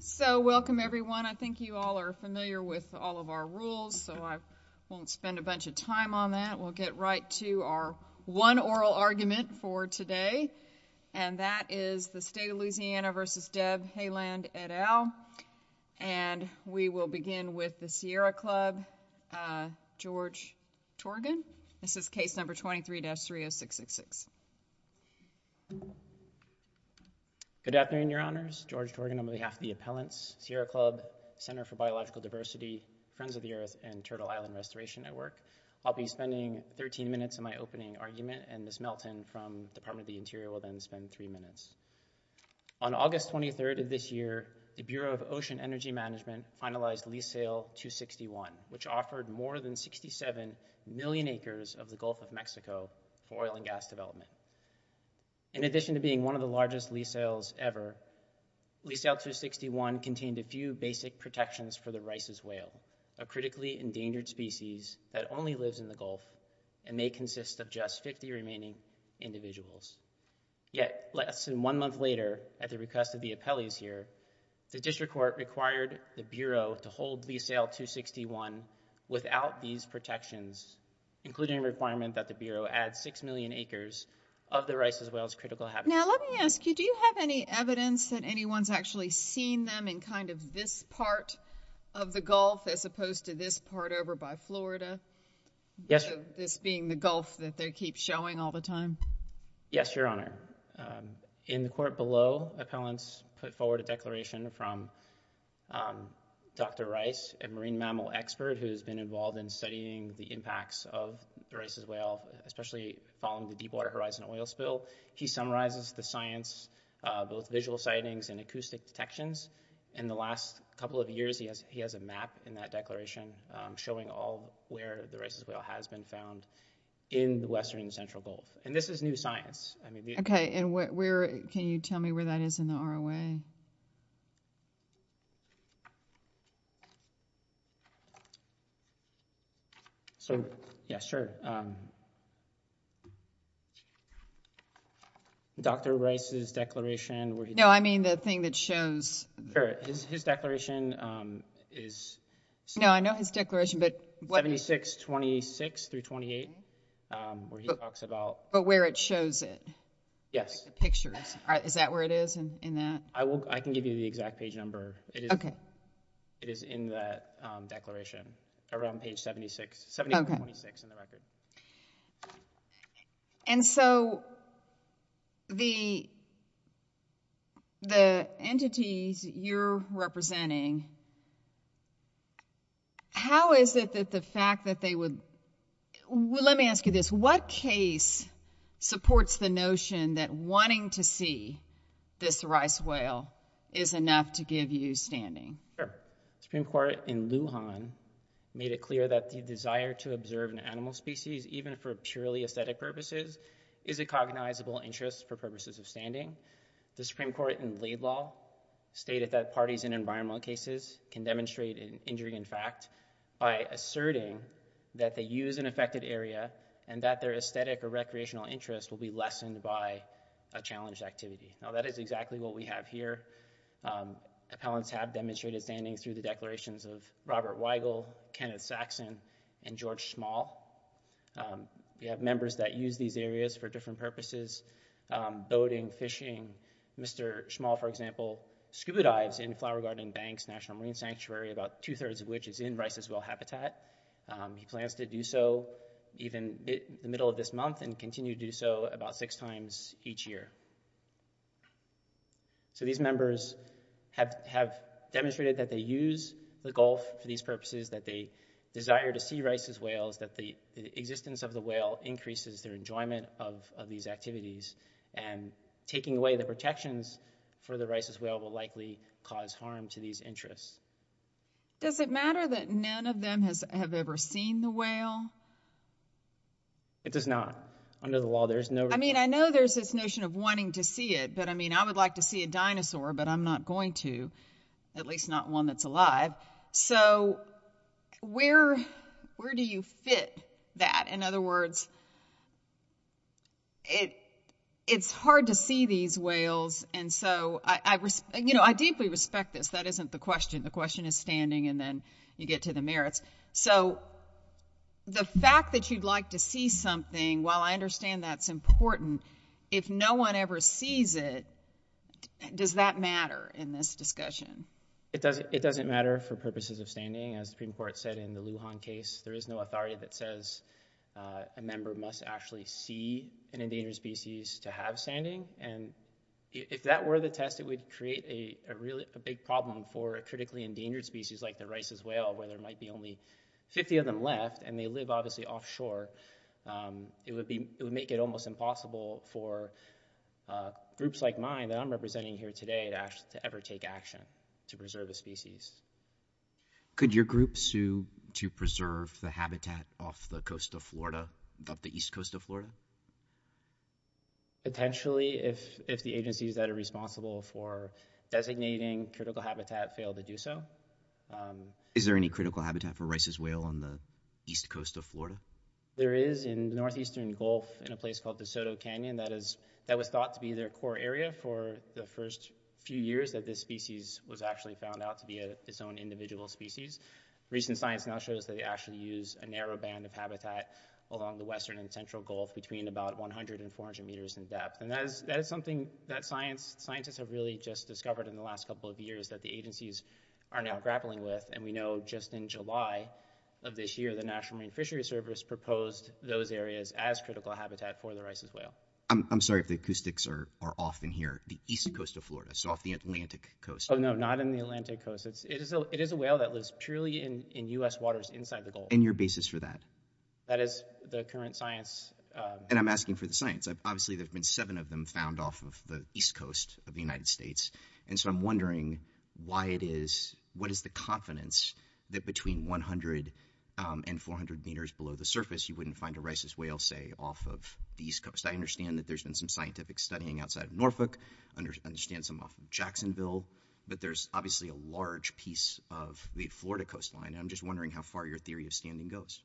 So, welcome everyone. I think you all are familiar with all of our rules, so I won't spend a bunch of time on that. We'll get right to our one oral argument for today, and that is the State of Louisiana v. Deb Haaland et al., and we will begin with the Sierra Club, George Torgan. This is case number 23-30666. Good afternoon, Your Honors. George Torgan on behalf of the appellants, Sierra Club, Center for Biological Diversity, Friends of the Earth, and Turtle Island Restoration Network. I'll be spending 13 minutes in my opening argument, and Ms. Melton from the Department of the Interior will then spend three minutes. On August 23rd of this year, the Bureau of Ocean Energy Management finalized Lease Sale 261, which offered more than 67 million acres of the Gulf of Mexico for oil and gas development. In addition to being one of the largest lease sales ever, Lease Sale 261 contained a few basic protections for the Rice's Whale, a critically endangered species that only lives in the Gulf and may consist of just 50 remaining individuals. Yet, less than one month later, at the request of the appellees here, the District Court required the Bureau to hold Lease Sale 261 without these protections, including a requirement that the Bureau add six million acres of the Rice's Whale's critical habitat. Now, let me ask you, do you have any evidence that anyone's actually seen them in kind of this part of the Gulf as opposed to this part over by Florida, this being the Gulf that they keep showing all the time? Yes, Your Honor. In the court below, appellants put forward a declaration from Dr. Rice, a marine mammal expert who has been involved in studying the impacts of the Rice's Whale, especially following the Deepwater Horizon oil spill. He summarizes the science, both visual sightings and acoustic detections. In the last couple of years, he has a map in that declaration showing all where the Rice's Whale has been found in the western and central Gulf. And this is new science. Okay, and where, can you tell me where that is in the ROA? So, yeah, sure. Dr. Rice's declaration, where he... No, I mean the thing that shows... Sure, his declaration is... No, I know his declaration, but... 7626-328, where he talks about... But where it shows it. Yes. Pictures. Is that where it is in that? I can give you the exact page number. Okay. It is in that declaration, around page 76, 7426 in the record. And so the entities you're representing, how is it that the fact that they would... Well, let me ask you this. What case supports the notion that wanting to see this Rice's Whale is enough to give you standing? Sure. Supreme Court in Lujan made it clear that the desire to observe an animal species, even for purely aesthetic purposes, is a cognizable interest for purposes of standing. The Supreme Court in Laidlaw stated that parties in environmental cases can demonstrate an injury in fact by asserting that they use an affected area and that their aesthetic or recreational interest will be lessened by a challenged activity. Now, that is exactly what we have here. Appellants have demonstrated standing through the declarations of Robert Weigel, Kenneth Saxon, and George Small. We have members that use these areas for different purposes, boating, fishing. Mr. Small, for example, scuba dives in Flower Garden Banks National Marine Sanctuary, about two-thirds of which is in Rice's Whale habitat. He plans to do so even in the middle of this month and continue to do so about six times each year. So these members have demonstrated that they use the Gulf for these purposes, that they desire to see Rice's Whales, that the existence of the whale increases their enjoyment of these activities, and taking away the protections for the Rice's Whale will likely cause harm to these interests. Does it matter that none of them have ever seen the whale? It does not. Under the law, there's no... I mean, I know there's this notion of wanting to see it, but I mean, I would like to see a dinosaur, but I'm not going to, at least not one that's alive. So, where do you fit that? In other words, it's hard to see these whales, and so I deeply respect this. That isn't the question. The question is standing, and then you get to the merits. So, the fact that you'd like to see something, while I understand that's important, if no one ever sees it, does that matter in this discussion? It doesn't matter for purposes of standing. As the Supreme Court said in the Lujan case, there is no authority that says a member must actually see an endangered species to have standing, and if that were the test, it would create a really big problem for a critically endangered species like the Rice's Whale, where there might be only 50 of them left, and they live, obviously, offshore. It would make it almost impossible for groups like mine that I'm representing here today to ever take action to preserve a species. Could your group sue to preserve the habitat off the east coast of Florida? Potentially, if the agencies that are responsible for designating critical habitat fail to do so. Is there any critical habitat for Rice's Whale on the east coast of Florida? There is in the northeastern Gulf, in a place called the Soto Canyon that was thought to be their core area for the first few years that this species was actually found out to be its own individual species. Recent science now shows that they actually use a narrow band of habitat along the western and central Gulf between about 100 and 400 meters in depth, and that is something that scientists have really just discovered in the last couple of years that the agencies are now grappling with, and we know just in July of this year, the National Marine Fishery Service I'm sorry if the acoustics are off in here, the east coast of Florida, so off the Atlantic coast. Oh no, not in the Atlantic coast. It is a whale that lives purely in U.S. waters inside the Gulf. And your basis for that? That is the current science. And I'm asking for the science. Obviously, there have been seven of them found off of the east coast of the United States, and so I'm wondering why it is, what is the confidence that between 100 and 400 meters below the surface, you wouldn't find a Rice's Whale, say, off of the east coast? I understand that there's been some scientific studying outside of Norfolk, understand some off of Jacksonville, but there's obviously a large piece of the Florida coastline, and I'm just wondering how far your theory of standing goes.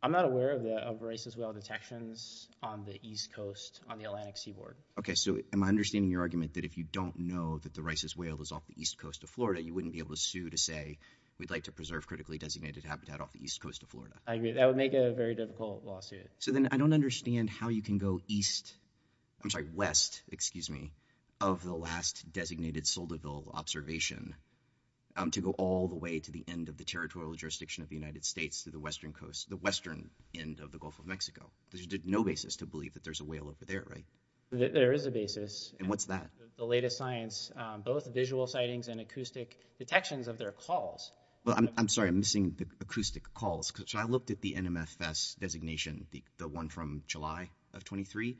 I'm not aware of Rice's Whale detections on the east coast on the Atlantic seaboard. Okay, so am I understanding your argument that if you don't know that the Rice's Whale is off the east coast of Florida, you wouldn't be able to sue to say we'd like to preserve critically designated habitat off the east coast of Florida? I agree. That would make a very difficult lawsuit. So then I don't understand how you can go east, I'm sorry, west, excuse me, of the last designated Solderville observation to go all the way to the end of the territorial jurisdiction of the United States to the western coast, the western end of the Gulf of Mexico. There's no basis to believe that there's a whale over there, right? There is a basis. And what's that? The latest science, both visual sightings and acoustic detections of their calls. Well, I'm sorry, I'm missing the acoustic calls. So I looked at the NMFS designation, the one from July of 23,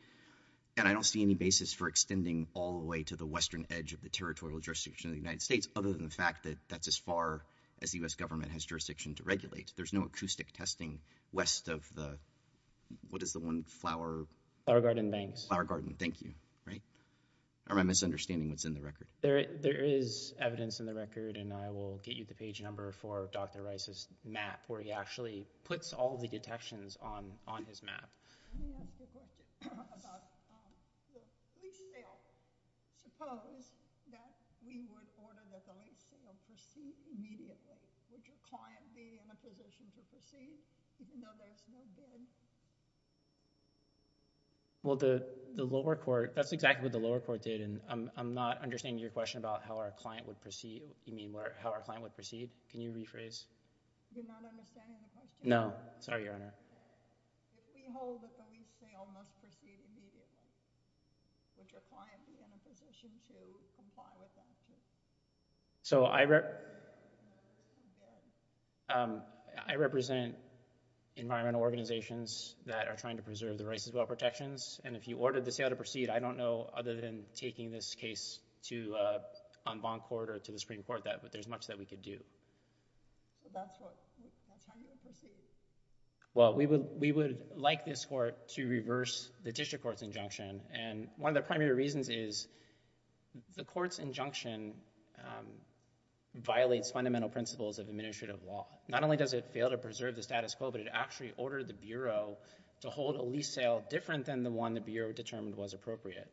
and I don't see any basis for extending all the way to the western edge of the territorial jurisdiction of the United States, other than the fact that that's as far as the U.S. government has jurisdiction to regulate. There's no acoustic testing west of the, what is the one, Flower? Flower Garden Banks. Flower Garden, thank you, right? Or am I misunderstanding what's in the record? There is evidence in the record, and I will get you the page number for Dr. Rice's on his map. Let me ask you a question about the client. If we still suppose that we would order the police to proceed immediately, would your client be in a position to proceed even though there's no bid? Well, the lower court, that's exactly what the lower court did, and I'm not understanding your question about how our client would proceed. You mean how our client would proceed? Can you rephrase? You're not understanding the question? No, sorry, Your Honor. If we hold that the police sale must proceed immediately, would your client be in a position to comply with that? So, I represent environmental organizations that are trying to preserve the Rice's well protections, and if you ordered the sale to proceed, I don't know, other than taking this case to, on bond court or to the Supreme Court, that there's much that we could do. But that's what, that's how you would proceed? Well, we would, we would like this court to reverse the district court's injunction, and one of the primary reasons is the court's injunction violates fundamental principles of administrative law. Not only does it fail to preserve the status quo, but it actually ordered the Bureau to hold a lease sale different than the one the Bureau determined was appropriate.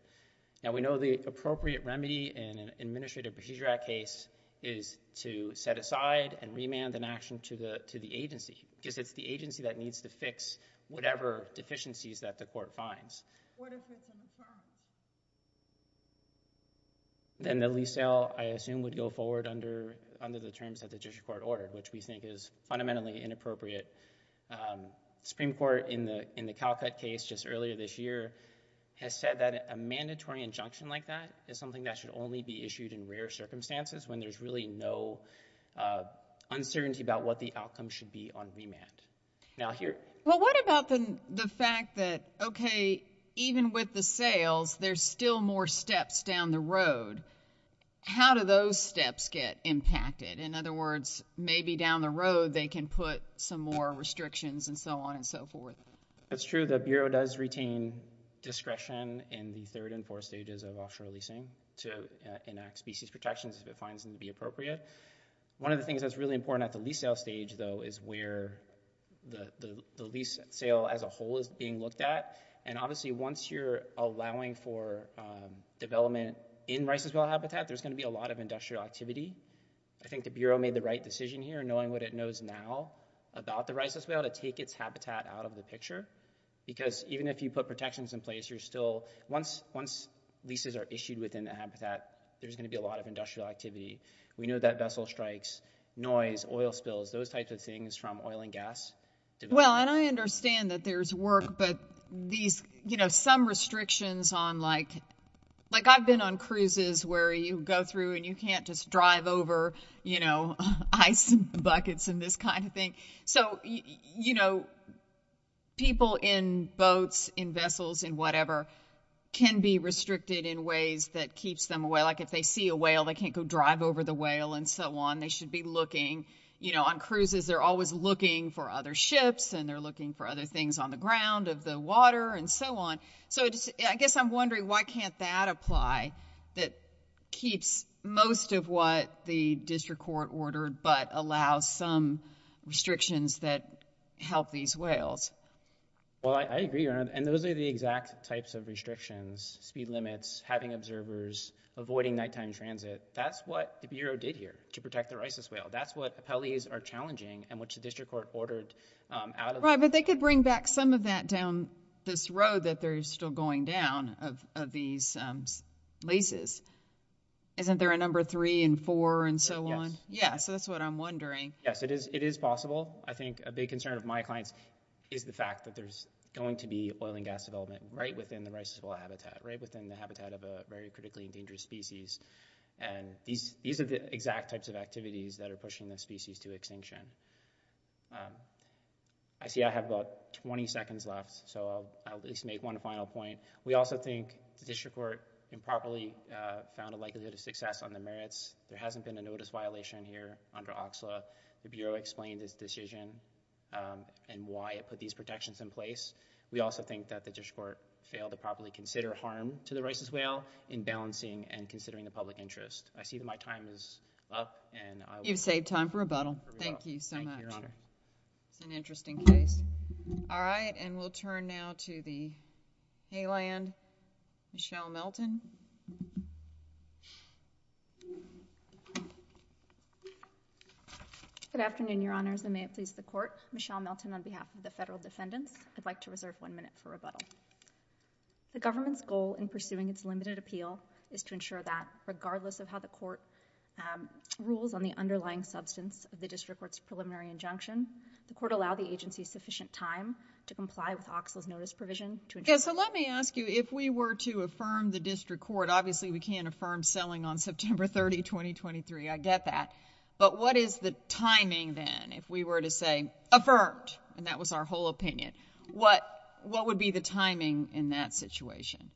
Now, we know the appropriate remedy in an Administrative Procedure Act case is to set aside and remand an action to the, to the agency, because it's the agency that needs to fix whatever deficiencies that the court finds. What if it's in the terms? Then the lease sale, I assume, would go forward under, under the terms that the district court ordered, which we think is fundamentally inappropriate. Supreme Court in the, in the Calcutt case just earlier this year has said that a mandatory injunction like that is something that should only be issued in rare circumstances, when there's really no uncertainty about what the outcome should be on remand. Now here. Well, what about the, the fact that, okay, even with the sales, there's still more steps down the road. How do those steps get impacted? In other words, maybe down the road, they can put some more restrictions and so on and so forth. That's true. The Bureau does retain discretion in the third and fourth stages of offshore leasing to enact species protections if it finds them to be appropriate. One of the things that's really important at the lease sale stage, though, is where the, the lease sale as a whole is being looked at. And obviously, once you're allowing for development in Rice's Well habitat, there's going to be a lot of industrial activity. I think the Bureau made the right decision here, knowing what it knows now about the Rice's Well, to take its habitat out of the picture. Because even if you put protections in place, you're still, once, once leases are issued within the habitat, there's going to be a lot of industrial activity. We know that vessel strikes, noise, oil spills, those types of things from oil and gas. Well, and I understand that there's work, but these, you know, some restrictions on like, like I've been on cruises where you go through and you can't just drive over, you know, ice buckets and this kind of thing. So, you know, people in boats, in vessels, in whatever, can be restricted in ways that keeps them away. Like if they see a whale, they can't go drive over the whale and so on. They should be looking, you know, on cruises, they're always looking for other ships and they're looking for other things on the ground of the water and so on. So I guess I'm wondering why can't that apply that keeps most of what the district court ordered, but allow some restrictions that help these whales? Well, I agree. And those are the exact types of restrictions, speed limits, having observers, avoiding nighttime transit. That's what the Bureau did here to protect their Isis whale. That's what appellees are challenging and which the district court ordered. But they could bring back some of that down this road that they're still going down of these leases. Isn't there a number three and four and so on? Yeah. So that's what I'm wondering. Yes, it is. It is possible. I think a big concern of my clients is the fact that there's going to be oil and gas development right within the Isis whale habitat, right within the habitat of a very critically endangered species. And these are the exact types of activities that are pushing the species to extinction. I see I have about 20 seconds left, so I'll at least make one final point. We also think the district court improperly found a likelihood of success on the merits. There hasn't been a notice violation here under OXLA. The Bureau explained this decision and why it put these protections in place. We also think that the district court failed to properly consider harm to the Isis whale in balancing and considering the public interest. I see that my time is up. You've saved time for rebuttal. Thank you so much. Thank you, Your Honor. It's an interesting case. All right, and we'll turn now to the Hayland, Michelle Melton. Good afternoon, Your Honors, and may it please the court. Michelle Melton on behalf of the federal defendants. I'd like to reserve one minute for rebuttal. The government's goal in pursuing its limited appeal is to ensure that regardless of how the court rules on the underlying substance of the district court's preliminary injunction, the court allow the agency sufficient time to comply with OXLA's notice provision to ensure... So let me ask you, if we were to affirm the district court, obviously we can't affirm selling on September 30, 2023. I get that, but what is the timing then if we were to say, affirmed, and that was our whole opinion, what would be the timing in that situation?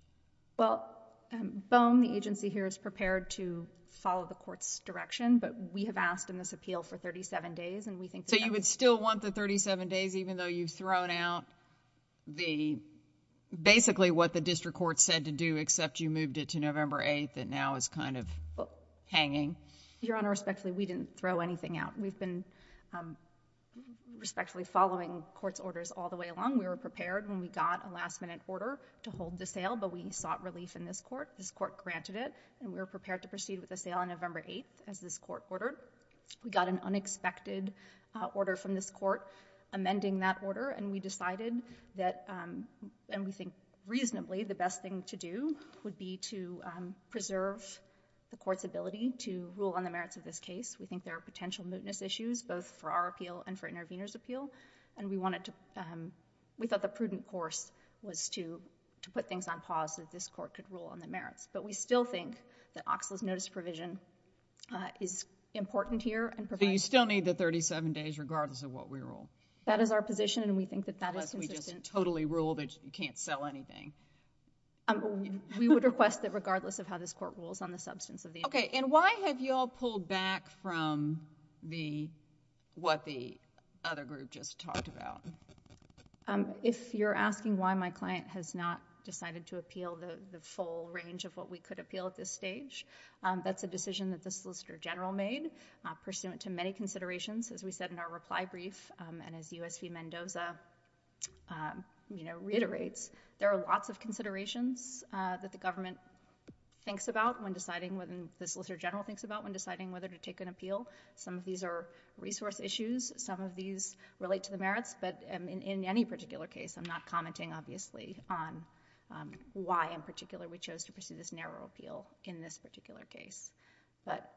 Well, Boehm, the agency here is prepared to follow the court's direction, but we have asked in this appeal for 37 days, and we think... So you would still want the 37 days, even though you've thrown out basically what the court's kind of hanging? Your Honor, respectfully, we didn't throw anything out. We've been respectfully following court's orders all the way along. We were prepared when we got a last-minute order to hold the sale, but we sought relief in this court. This court granted it, and we were prepared to proceed with the sale on November 8, as this court ordered. We got an unexpected order from this court amending that order, and we decided that, and we think reasonably the best thing to do would be to preserve the court's ability to rule on the merits of this case. We think there are potential mootness issues, both for our appeal and for intervener's appeal, and we wanted to... We thought the prudent course was to put things on pause so that this court could rule on the merits, but we still think that OXLA's notice of provision is important here and provides... So you still need the 37 days regardless of what we rule? That is our position, and we think that that is consistent. Totally rule that you can't sell anything. We would request that regardless of how this court rules on the substance of the... Okay, and why have you all pulled back from what the other group just talked about? If you're asking why my client has not decided to appeal the full range of what we could appeal at this stage, that's a decision that the Solicitor General made pursuant to many reiterates. There are lots of considerations that the government thinks about when deciding, when the Solicitor General thinks about when deciding whether to take an appeal. Some of these are resource issues. Some of these relate to the merits, but in any particular case, I'm not commenting obviously on why in particular we chose to pursue this narrow appeal in this particular case. But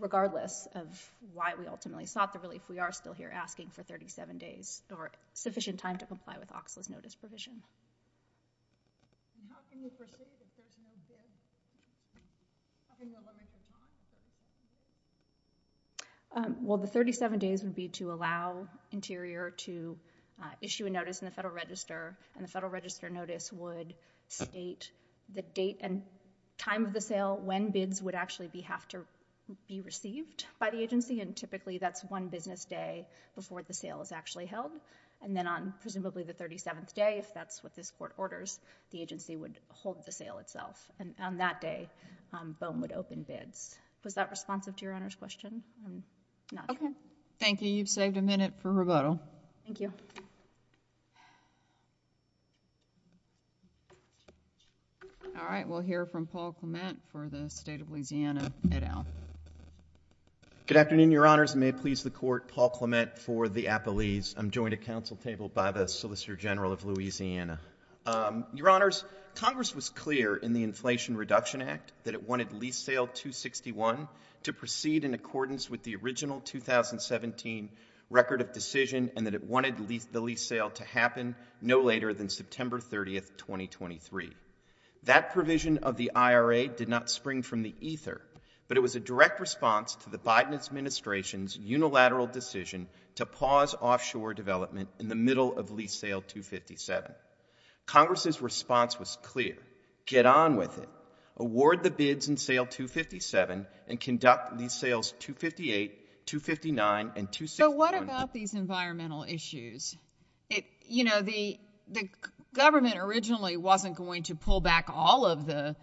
regardless of why we ultimately sought the relief, we are still here asking for 37 days or sufficient time to comply with OXLA's notice provision. And how can we pursue the 37 days? How can we limit the time? Well, the 37 days would be to allow Interior to issue a notice in the Federal Register, and the Federal Register notice would state the date and time of the sale, when bids would actually have to be received by the agency, and typically that's one business day before the sale is actually held. And then on presumably the 37th day, if that's what this Court orders, the agency would hold the sale itself. And on that day, BOEM would open bids. Was that responsive to Your Honor's question? I'm not sure. Okay. Thank you. You've saved a minute for rebuttal. Thank you. All right. We'll hear from Paul Clement for the State of Louisiana. Good afternoon, Your Honors. May it please the Court, Paul Clement for the Appellees. I'm joined at Council table by the Solicitor General of Louisiana. Your Honors, Congress was clear in the Inflation Reduction Act that it wanted lease sale 261 to proceed in accordance with the original 2017 record of decision and that it wanted the lease sale to happen no later than September 30, 2023. That provision of the IRA did not spring from the ether, but it was a direct response to Biden Administration's unilateral decision to pause offshore development in the middle of lease sale 257. Congress's response was clear. Get on with it. Award the bids in sale 257 and conduct lease sales 258, 259, and 261. So what about these environmental issues? You know, the government originally wasn't going to pull back all of the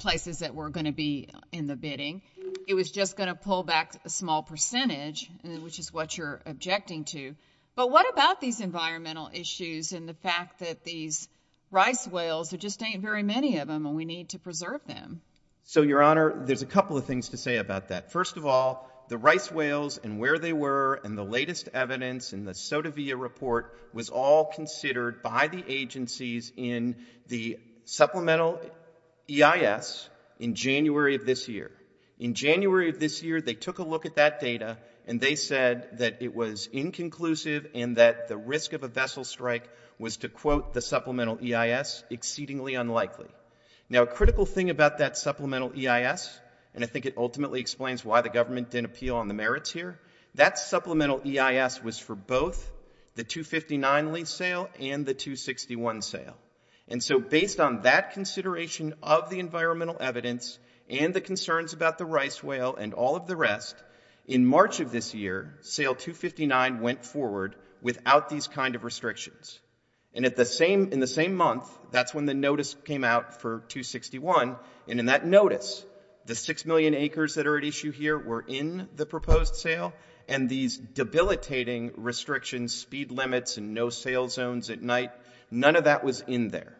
places that were going to be in the bidding. It was just going to pull back a small percentage, which is what you're objecting to. But what about these environmental issues and the fact that these rice whales, there just ain't very many of them and we need to preserve them? So, Your Honor, there's a couple of things to say about that. First of all, the rice whales and where they were and the latest evidence in the SOTAVIA report was all considered by the agencies in the supplemental EIS in January of this year. In January of this year, they took a look at that data and they said that it was inconclusive and that the risk of a vessel strike was, to quote the supplemental EIS, exceedingly unlikely. Now, a critical thing about that supplemental EIS, and I think it ultimately explains why the government didn't appeal on the merits here, that supplemental EIS was for both the 259 lease sale and the 261 sale. And so based on that consideration of the environmental evidence and the concerns about the rice whale and all of the rest, in March of this year, sale 259 went forward without these kind of restrictions. And in the same month, that's when the notice came out for 261. And in that notice, the 6 million acres that are at issue here were in the proposed sale and these debilitating restrictions, speed limits and no sale zones at night, none of that was in there.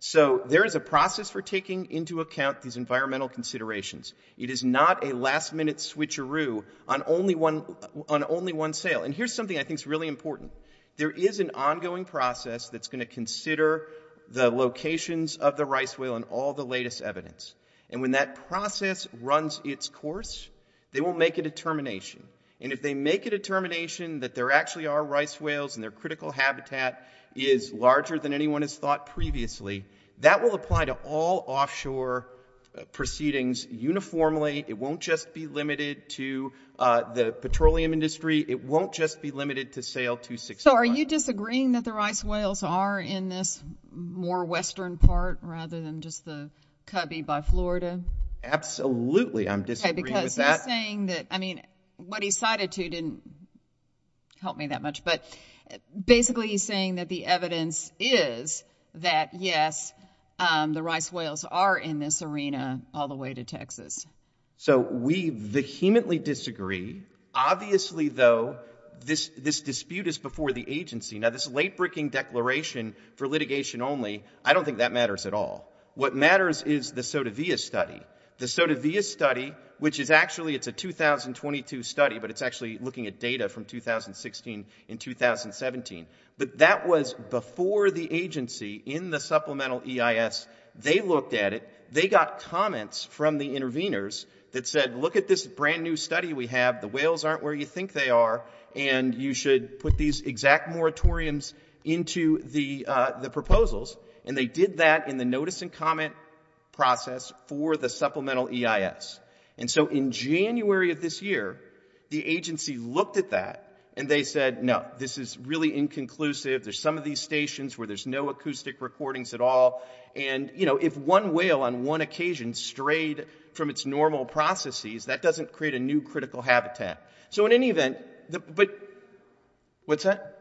So there is a process for taking into account these environmental considerations. It is not a last minute switcheroo on only one sale. And here's something I think is really important. There is an ongoing process that's going to consider the locations of the rice whale and all the latest evidence. And when that process runs its course, they will make a determination. And if they make a determination that there actually are rice whales and their critical habitat is larger than anyone has thought previously, that will apply to all offshore proceedings uniformly. It won't just be limited to the petroleum industry. It won't just be limited to sale 261. So are you disagreeing that the rice whales are in this more western part rather than just the cubby by Florida? Absolutely. I'm disagreeing with that. OK, because you're saying that, I mean, what he cited to didn't help me that much. But basically, he's saying that the evidence is that, yes, the rice whales are in this arena all the way to Texas. So we vehemently disagree. Obviously, though, this dispute is before the agency. Now, this late breaking declaration for litigation only, I don't think that matters at all. What matters is the SOTAVIA study. The SOTAVIA study, which is actually it's a 2022 study, but it's actually looking at from 2016 and 2017. But that was before the agency in the supplemental EIS. They looked at it. They got comments from the interveners that said, look at this brand new study we have. The whales aren't where you think they are. And you should put these exact moratoriums into the proposals. And they did that in the notice and comment process for the supplemental EIS. And so in January of this year, the agency looked at that and they said, no, this is really inconclusive. There's some of these stations where there's no acoustic recordings at all. And if one whale on one occasion strayed from its normal processes, that doesn't create a new critical habitat. So in any event, but what's that?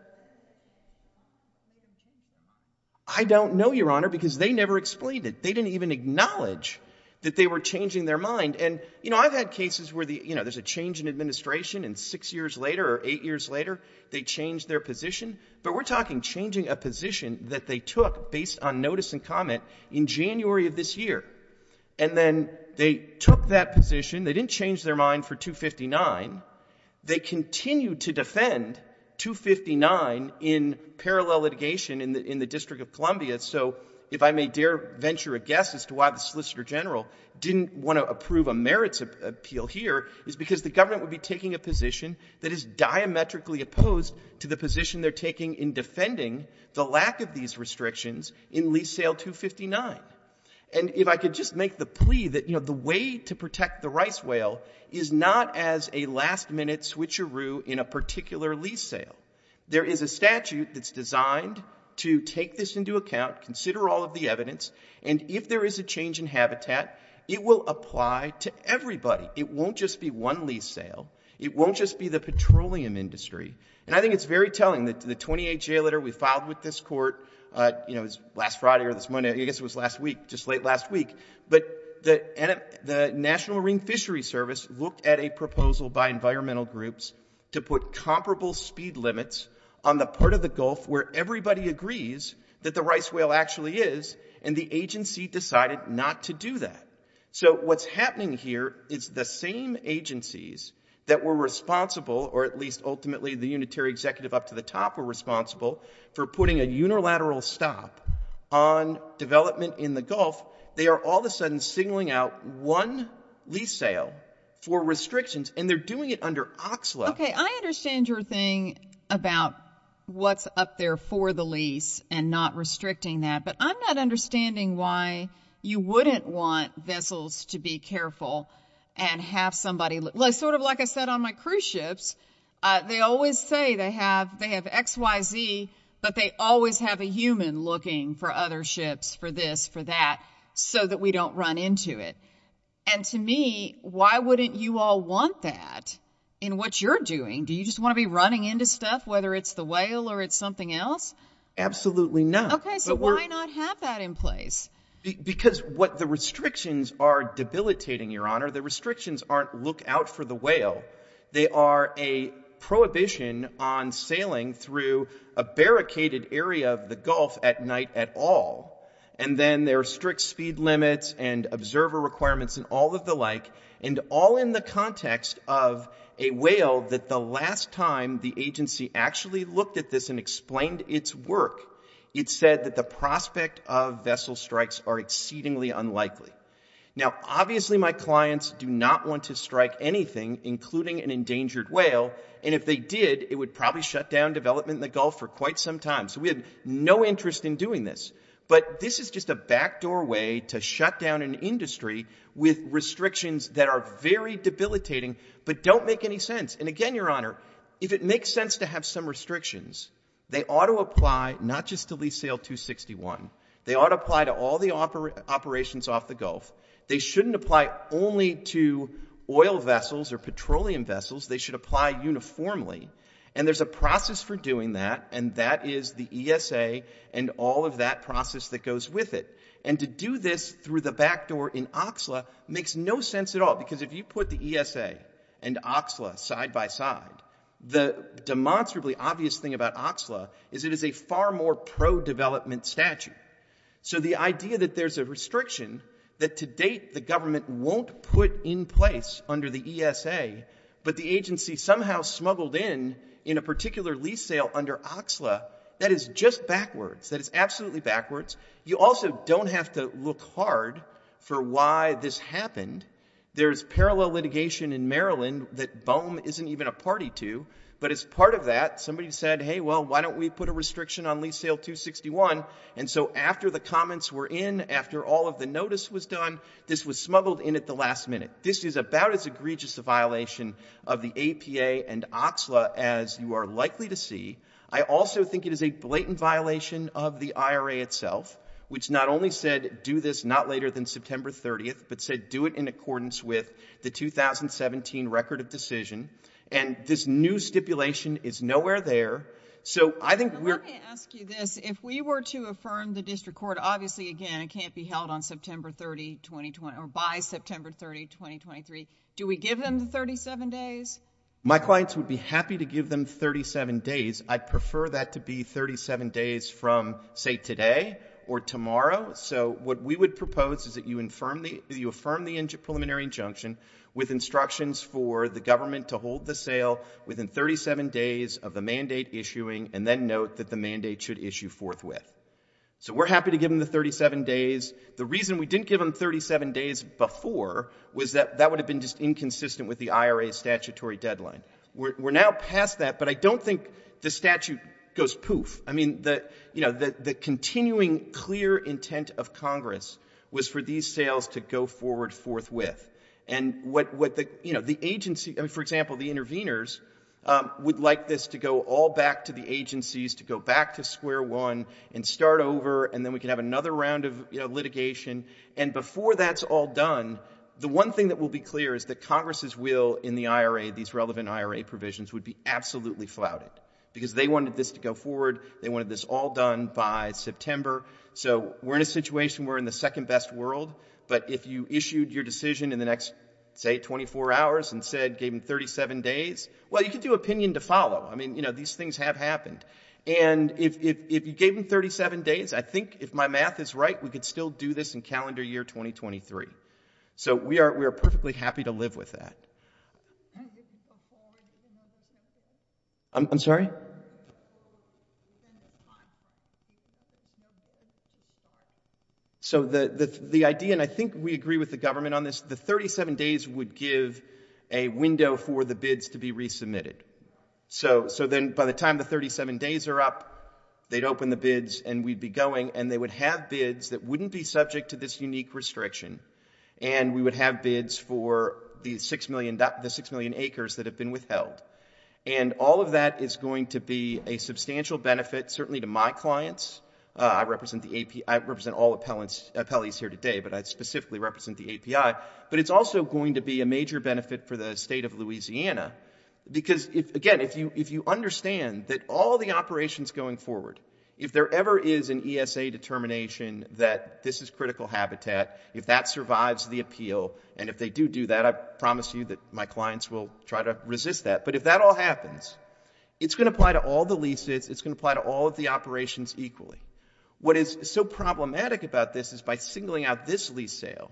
I don't know, Your Honor, because they never explained it. They didn't even acknowledge that they were changing their mind. And I've had cases where there's a change in administration. And six years later or eight years later, they changed their position. But we're talking changing a position that they took based on notice and comment in January of this year. And then they took that position. They didn't change their mind for 259. They continued to defend 259 in parallel litigation in the District of Columbia. So if I may dare venture a guess as to why the Solicitor General didn't want to approve a merits appeal here is because the government would be taking a position that is diametrically opposed to the position they're taking in defending the lack of these restrictions in lease sale 259. And if I could just make the plea that the way to protect the rice whale is not as a last-minute switcheroo in a particular lease sale. There is a statute that's designed to take this into account, consider all of the evidence, and if there is a change in habitat, it will apply to everybody. It won't just be one lease sale. It won't just be the petroleum industry. And I think it's very telling that the 28-year letter we filed with this court last Friday or this morning. I guess it was last week, just late last week. But the National Marine Fishery Service looked at a proposal by environmental groups to put comparable speed limits on the part of the Gulf where everybody agrees that the rice whale actually is, and the agency decided not to do that. So what's happening here is the same agencies that were responsible, or at least ultimately the Unitary Executive up to the top were responsible, for putting a unilateral stop on development in the Gulf, they are all of a sudden singling out one lease sale for restrictions, and they're doing it under OXLA. Okay, I understand your thing about what's up there for the lease and not restricting that, but I'm not understanding why you wouldn't want vessels to be careful and have somebody, sort of like I said on my cruise ships, they always say they have X, Y, Z, but they always have a human looking for other ships for this, for that, so that we don't run into it. And to me, why wouldn't you all want that in what you're doing? Do you just want to be running into stuff, whether it's the whale or it's something else? Absolutely not. Okay, so why not have that in place? Because what the restrictions are debilitating, Your Honor, the restrictions aren't look out for the whale, they are a prohibition on sailing through a barricaded area of the Gulf at night at all, and then there are strict speed limits and observer requirements and all of the like, and all in the context of a whale that the last time the agency actually looked at this and explained its work, it said that the prospect of vessel strikes are exceedingly unlikely. Now, obviously my clients do not want to strike anything, including an endangered whale, and if they did, it would probably shut down development in the Gulf for quite some time. So we had no interest in doing this. But this is just a backdoor way to shut down an industry with restrictions that are very debilitating, but don't make any sense. And again, Your Honor, if it makes sense to have some restrictions, they ought to apply not just to lease sail 261, they ought to apply to all the operations off the Gulf. They shouldn't apply only to oil vessels or petroleum vessels, they should apply uniformly. And there's a process for doing that, and that is the ESA and all of that process that goes with it. And to do this through the backdoor in Oxla makes no sense at all, because if you put the ESA and Oxla side by side, the demonstrably obvious thing about Oxla is it is a far more pro-development statute. So the idea that there's a restriction that to date the government won't put in place under the ESA, but the agency somehow smuggled in in a particular lease sale under Oxla, that is just backwards. That is absolutely backwards. You also don't have to look hard for why this happened. There's parallel litigation in Maryland that BOEM isn't even a party to. But as part of that, somebody said, hey, well, why don't we put a restriction on lease sale 261? And so after the comments were in, after all of the notice was done, this was smuggled in at the last minute. This is about as egregious a violation of the APA and Oxla as you are likely to see. I also think it is a blatant violation of the IRA itself, which not only said do this not later than September 30th, but said do it in accordance with the 2017 record of decision. And this new stipulation is nowhere there. So I think we're— Let me ask you this. If we were to affirm the district court, obviously, again, it can't be held on September 30, 2020—or by September 30, 2023. Do we give them the 37 days? My clients would be happy to give them 37 days. I'd prefer that to be 37 days from, say, today or tomorrow. So what we would propose is that you affirm the preliminary injunction with instructions for the government to hold the sale within 37 days of the mandate issuing and then note that the mandate should issue forthwith. So we're happy to give them the 37 days. The reason we didn't give them 37 days before was that that would have been just inconsistent with the IRA statutory deadline. We're now past that, but I don't think the statute goes poof. I mean, the, you know, the continuing clear intent of Congress was for these sales to go forward forthwith. And what the, you know, the agency—I mean, for example, the interveners would like this to go all back to the agencies, to go back to square one and start over, and then we can have another round of, you know, litigation. And before that's all done, the one thing that will be clear is that Congress's will in the IRA, these relevant IRA provisions, would be absolutely flouted, because they wanted this to go forward. They wanted this all done by September. So we're in a situation where we're in the second best world, but if you issued your decision in the next, say, 24 hours and said, gave them 37 days, well, you could do opinion to follow. I mean, you know, these things have happened. And if you gave them 37 days, I think if my math is right, we could still do this in calendar year 2023. So we are perfectly happy to live with that. I'm sorry? So the idea, and I think we agree with the government on this, the 37 days would give a window for the bids to be resubmitted. So then by the time the 37 days are up, they'd open the bids, and we'd be going, and they would have bids that wouldn't be subject to this unique restriction, and we would have bids for the 6 million acres that have been withheld. And all of that is going to be a substantial benefit, certainly to my clients. I represent all appellees here today, but I specifically represent the API. But it's also going to be a major benefit for the state of Louisiana. Because, again, if you understand that all the operations going forward, if there ever is an ESA determination that this is critical habitat, if that survives the appeal, and if they do do that, I promise you that my clients will try to resist that. But if that all happens, it's going to apply to all the leases, it's going to apply to all of the operations equally. What is so problematic about this is by singling out this lease sale.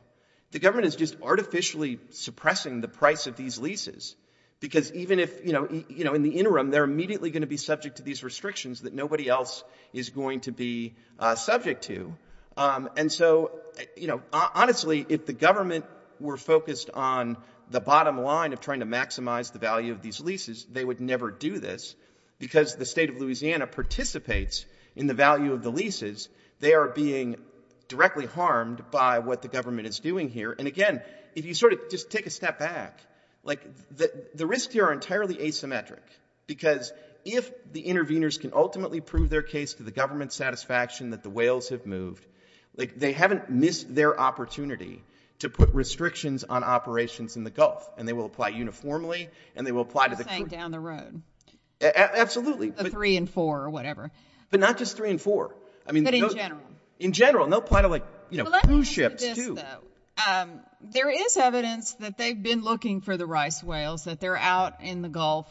The government is just artificially suppressing the price of these leases. Because even if, you know, in the interim, they're immediately going to be subject to these restrictions that nobody else is going to be subject to. And so, you know, honestly, if the government were focused on the bottom line of trying to maximize the value of these leases, they would never do this, because the state of Louisiana participates in the value of the leases. They are being directly harmed by what the government is doing here. And, again, if you sort of just take a step back, like, the risks here are entirely asymmetric. Because if the interveners can ultimately prove their case to the government's satisfaction that the whales have moved, like, they haven't missed their opportunity to put restrictions on operations in the Gulf. And they will apply uniformly. And they will apply to the- Just saying down the road. Absolutely. The three and four or whatever. But not just three and four. I mean- But in general. In general. And they'll apply to, like, you know, cruise ships, too. Well, let me ask you this, though. There is evidence that they've been looking for the rice whales, that they're out in the Gulf,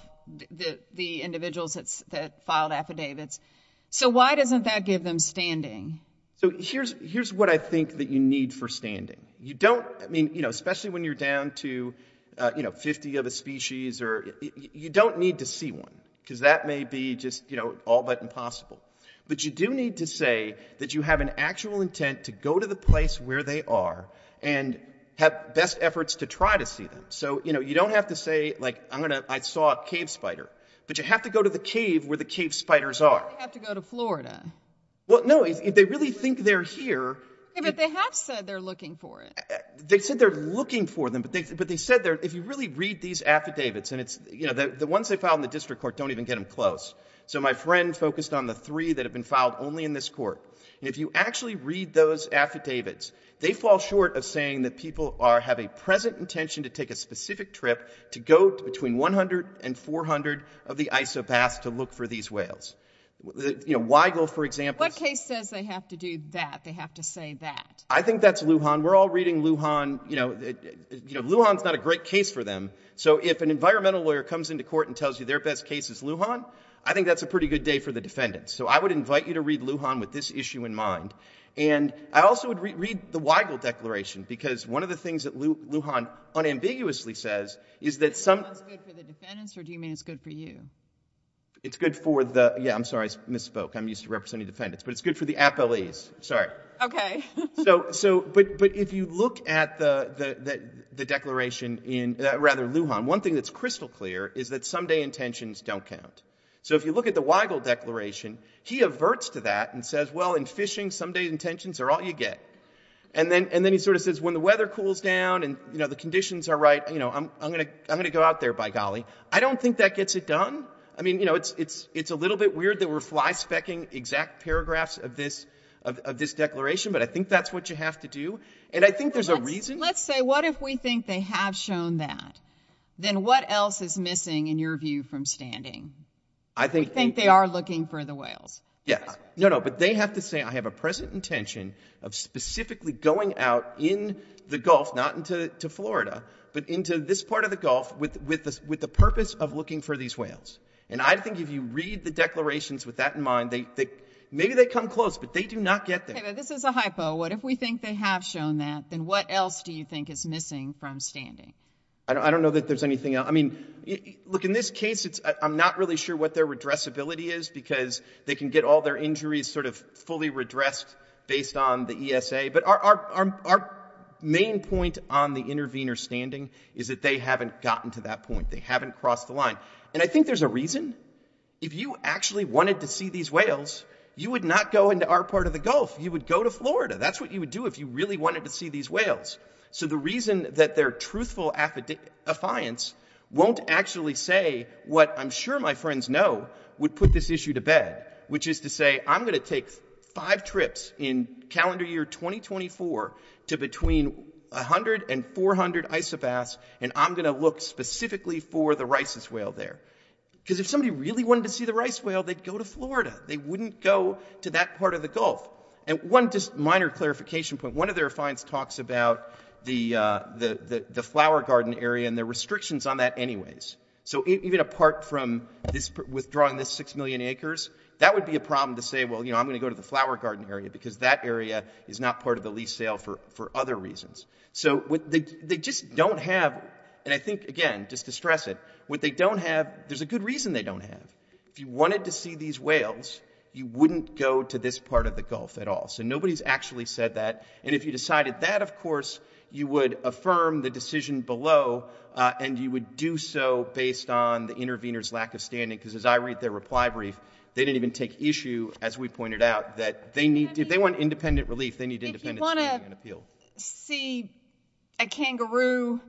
the individuals that filed affidavits. So why doesn't that give them standing? So here's what I think that you need for standing. You don't- I mean, you know, especially when you're down to, you know, 50 of a species or- you don't need to see one. Because that may be just, you know, all but impossible. But you do need to say that you have an actual intent to go to the place where they are and have best efforts to try to see them. So, you know, you don't have to say, like, I'm going to- I saw a cave spider. But you have to go to the cave where the cave spiders are. Or they have to go to Florida. Well, no, if they really think they're here- Yeah, but they have said they're looking for it. They said they're looking for them. But they said they're- if you really read these affidavits, and it's- you know, the ones they filed in the district court don't even get them close. So my friend focused on the three that have been filed only in this court. And if you actually read those affidavits, they fall short of saying that people are- have a present intention to take a specific trip to go between 100 and 400 of the isobaths to look for these whales. You know, Weigel, for example- What case says they have to do that? They have to say that? I think that's Lujan. We're all reading Lujan. You know, Lujan's not a great case for them. So if an environmental lawyer comes into court and tells you their best case is Lujan, I think that's a pretty good day for the defendants. So I would invite you to read Lujan with this issue in mind. And I also would read the Weigel Declaration, because one of the things that Lujan unambiguously says is that some- Is Lujan good for the defendants, or do you mean it's good for you? It's good for the- yeah, I'm sorry, I misspoke. I'm used to representing defendants. But it's good for the appellees. Sorry. Okay. So- so- but- but if you look at the- the- the declaration in- rather Lujan, one thing that's crystal clear is that someday intentions don't count. So if you look at the Weigel Declaration, he averts to that and says, well, in fishing, someday intentions are all you get. And then- and then he sort of says, when the weather cools down and, you know, the conditions are right, you know, I'm- I'm gonna- I'm gonna go out there, by golly. I don't think that gets it done. I mean, you know, it's- it's- it's a little bit weird that we're fly-specking exact paragraphs of this- of this declaration, but I think that's what you have to do. And I think there's a reason- Let's say, what if we think they have shown that? Then what else is missing, in your view, from standing? I think- We think they are looking for the whales. Yeah, no, no. But they have to say, I have a present intention of specifically going out in the Gulf, not into- to Florida, but into this part of the Gulf with- with the- with the purpose of looking for these whales. And I think if you read the declarations with that in mind, they- they- maybe they come close, but they do not get there. Okay, but this is a hypo. What if we think they have shown that? Then what else do you think is missing from standing? I don't- I don't know that there's anything else. I mean, look, in this case, it's- I'm not really sure what their redressability is because they can get all their injuries sort of fully redressed based on the ESA. But our- our- our main point on the intervener standing is that they haven't gotten to that point. They haven't crossed the line. And I think there's a reason. If you actually wanted to see these whales, you would not go into our part of the Gulf. You would go to Florida. That's what you would do if you really wanted to see these whales. So the reason that their truthful affidavit- affiance won't actually say what I'm sure my friends know would put this issue to bed, which is to say, I'm going to take five trips in calendar year 2024 to between 100 and 400 isobaths, and I'm going to look specifically for the rhizus whale there. Because if somebody really wanted to see the rhizus whale, they'd go to Florida. They wouldn't go to that part of the Gulf. And one just minor clarification point. One of their affiance talks about the- the- the flower garden area and the restrictions on that anyways. So even apart from this withdrawing this 6 million acres, that would be a problem to say, well, you know, I'm going to go to the flower garden area because that area is not part of the lease sale for- for other reasons. So what they- they just don't have, and I think again, just to stress it, what they don't have, there's a good reason they don't have. If you wanted to see these whales, you wouldn't go to this part of the Gulf at all. So nobody's actually said that. And if you decided that, of course, you would affirm the decision below and you would do so based on the intervener's lack of standing. Because as I read their reply brief, they didn't even take issue, as we pointed out, that they need- if they want independent relief, they need independent standing and appeal. If you want to see a kangaroo,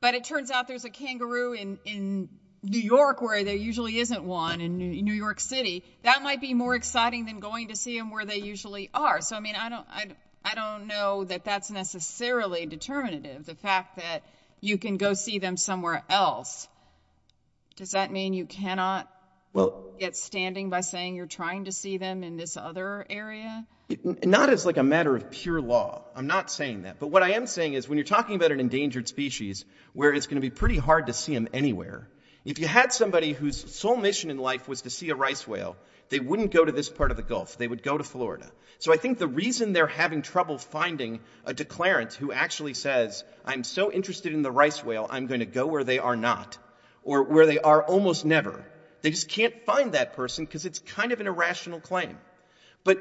but it turns out there's a kangaroo in- in New York where there usually isn't one in New York City, that might be more exciting than going to see them where they usually are. So, I mean, I don't- I don't know that that's necessarily determinative. The fact that you can go see them somewhere else, does that mean you cannot get standing by saying you're trying to see them in this other area? Not as like a matter of pure law. I'm not saying that. But what I am saying is when you're talking about an endangered species where it's going to be pretty hard to see them anywhere. If you had somebody whose sole mission in life was to see a rice whale, they wouldn't go to this part of the Gulf. They would go to Florida. So I think the reason they're having trouble finding a declarant who actually says, I'm so interested in the rice whale, I'm going to go where they are not. Or where they are almost never. They just can't find that person because it's kind of an irrational claim. But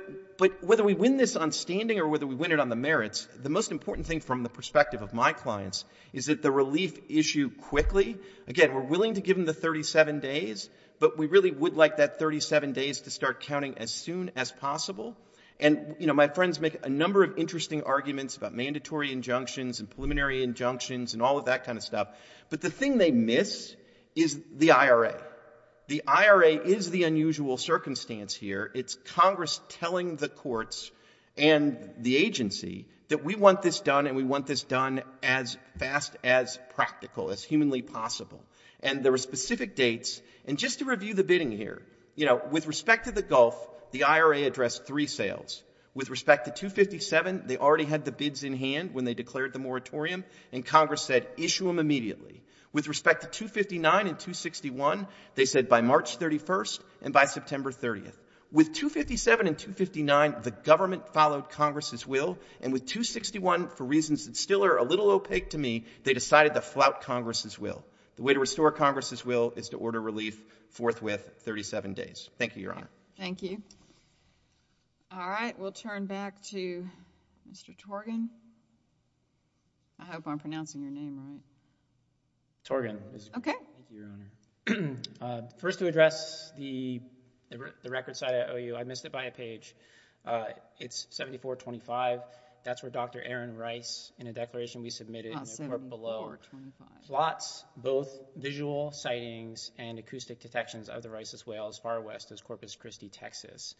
whether we win this on standing or whether we win it on the merits, the most important thing from the perspective of my clients is that the relief issue quickly- again, we're willing to give them the 37 days. But we really would like that 37 days to start counting as soon as possible. And my friends make a number of interesting arguments about mandatory injunctions and preliminary injunctions and all of that kind of stuff. But the thing they miss is the IRA. The IRA is the unusual circumstance here. It's Congress telling the courts and the agency that we want this done and we want this done as fast, as practical, as humanly possible. And there are specific dates. And just to review the bidding here, you know, with respect to the Gulf, the IRA addressed three sales. With respect to 257, they already had the bids in hand when they declared the moratorium and Congress said issue them immediately. With respect to 259 and 261, they said by March 31st and by September 30th. With 257 and 259, the government followed Congress's will. And with 261, for reasons that still are a little opaque to me, they decided to flout Congress's will. The way to restore Congress's will is to order relief forthwith 37 days. Thank you, Your Honor. Thank you. All right. We'll turn back to Mr. Torgan. I hope I'm pronouncing your name right. Torgan. Okay. First to address the record side at OU, I missed it by a page. It's 7425. That's where Dr. Aaron Rice, in a declaration we submitted in the report below, plots both visual sightings and acoustic detections of the rhesus whale as far west as Corpus Christi, Texas.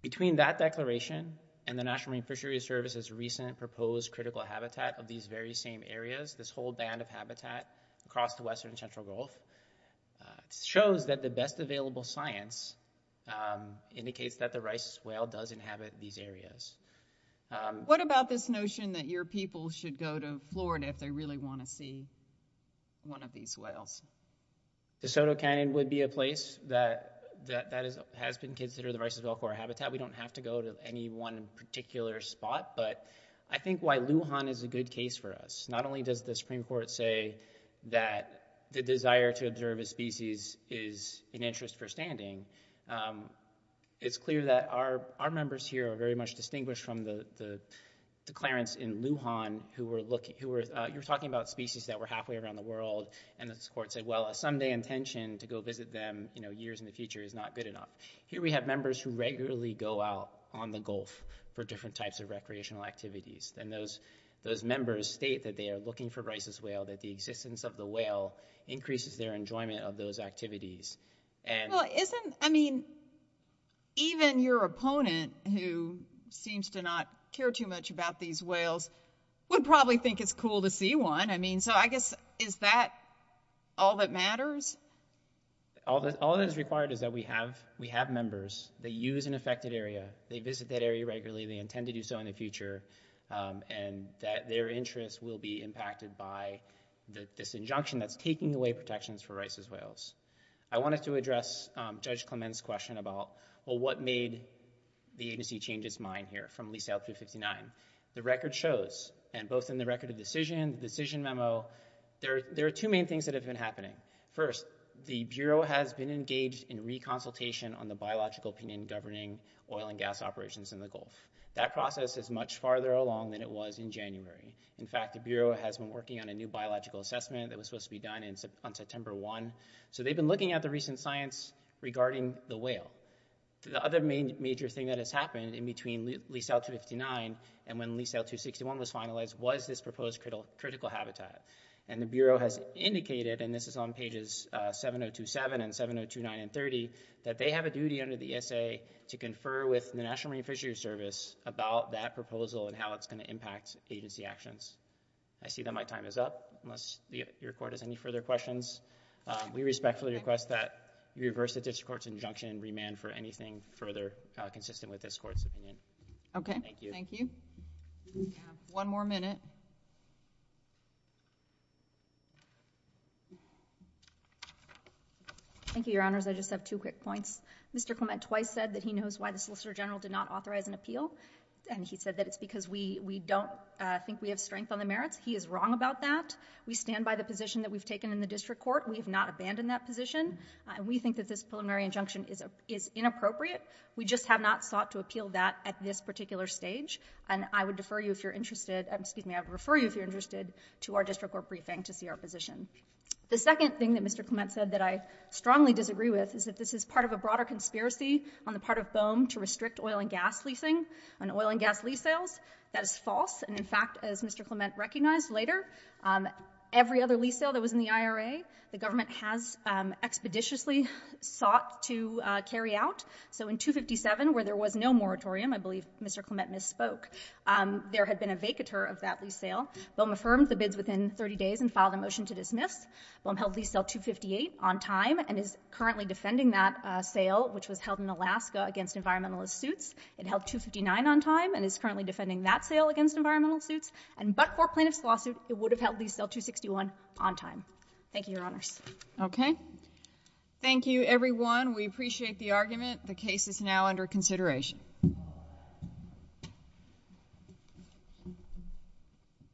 Between that declaration and the National Marine Fisheries Service's recent proposed critical habitat of these very same areas, this whole band of habitat across the western central gulf, shows that the best available science indicates that the rhesus whale does inhabit these areas. What about this notion that your people should go to Florida if they really want to see one of these whales? DeSoto Canyon would be a place that has been considered the rhesus whale habitat. We don't have to go to any one particular spot. But I think why Lujan is a good case for us. Not only does the Supreme Court say that the desire to observe a species is an interest for standing. It's clear that our members here are very much distinguished from the declarants in Lujan who were talking about species that were halfway around the world. And the court said, well, a Sunday intention to go visit them years in the future is not good enough. Here we have members who regularly go out on the gulf for different types of recreational activities. And those members state that they are looking for rhesus whale, that the existence of the whale increases their enjoyment of those activities. I mean, even your opponent, who seems to not care too much about these whales, would probably think it's cool to see one. I mean, so I guess, is that all that matters? All that is required is that we have members that use an affected area. They visit that area regularly. They intend to do so in the future. And that their interests will be impacted by this injunction that's taking away protections for rhesus whales. I wanted to address Judge Clement's question about, well, what made the agency change its mind here from Lease Out 359. The record shows, and both in the record of decision, the decision memo, there are two main things that have been happening. First, the Bureau has been engaged in reconsultation on the biological opinion governing oil and gas operations in the gulf. That process is much farther along than it was in January. In fact, the Bureau has been working on a new biological assessment that was supposed to be done on September 1. So they've been looking at the recent science regarding the whale. The other major thing that has happened in between Lease Out 259 and when Lease Out 261 was finalized was this proposed critical habitat. And the Bureau has indicated, and this is on pages 7027 and 7029 and 30, that they have a duty under the ESA to confer with the National Marine Fisheries Service about that proposal and how it's going to impact agency actions. I see that my time is up, unless your court has any further questions. We respectfully request that you reverse the district court's injunction and remand for anything further consistent with this court's opinion. Thank you. Thank you. One more minute. Thank you, Your Honors. I just have two quick points. Mr. Clement twice said that he knows why the Solicitor General did not authorize an appeal. And he said that it's because we don't think we have strength on the merits. He is wrong about that. We stand by the position that we've taken in the district court. We have not abandoned that position. We think that this preliminary injunction is inappropriate. We just have not sought to appeal that at this particular stage. And I would defer you if you're interested, excuse me, I would refer you if you're interested to our district court briefing to see our position. The second thing that Mr. Clement said that I strongly disagree with is that this is part of a broader conspiracy on the part of BOEM to restrict oil and gas leasing on oil and gas lease sales. That is false. And in fact, as Mr. Clement recognized later, every other lease sale that was in the IRA, the government has expeditiously sought to carry out. So in 257, where there was no moratorium, I believe Mr. Clement misspoke, there had been a vacatur of that lease sale. BOEM affirmed the bids within 30 days and filed a motion to dismiss. BOEM held lease sale 258 on time and is currently defending that sale, which was held in Alaska against environmentalist suits. It held 259 on time and is currently defending that sale against environmental suits. And but for plaintiff's lawsuit, it would have held lease sale 261 on time. Thank you, Your Honors. Okay. Thank you, everyone. We appreciate the argument. The case is now under consideration.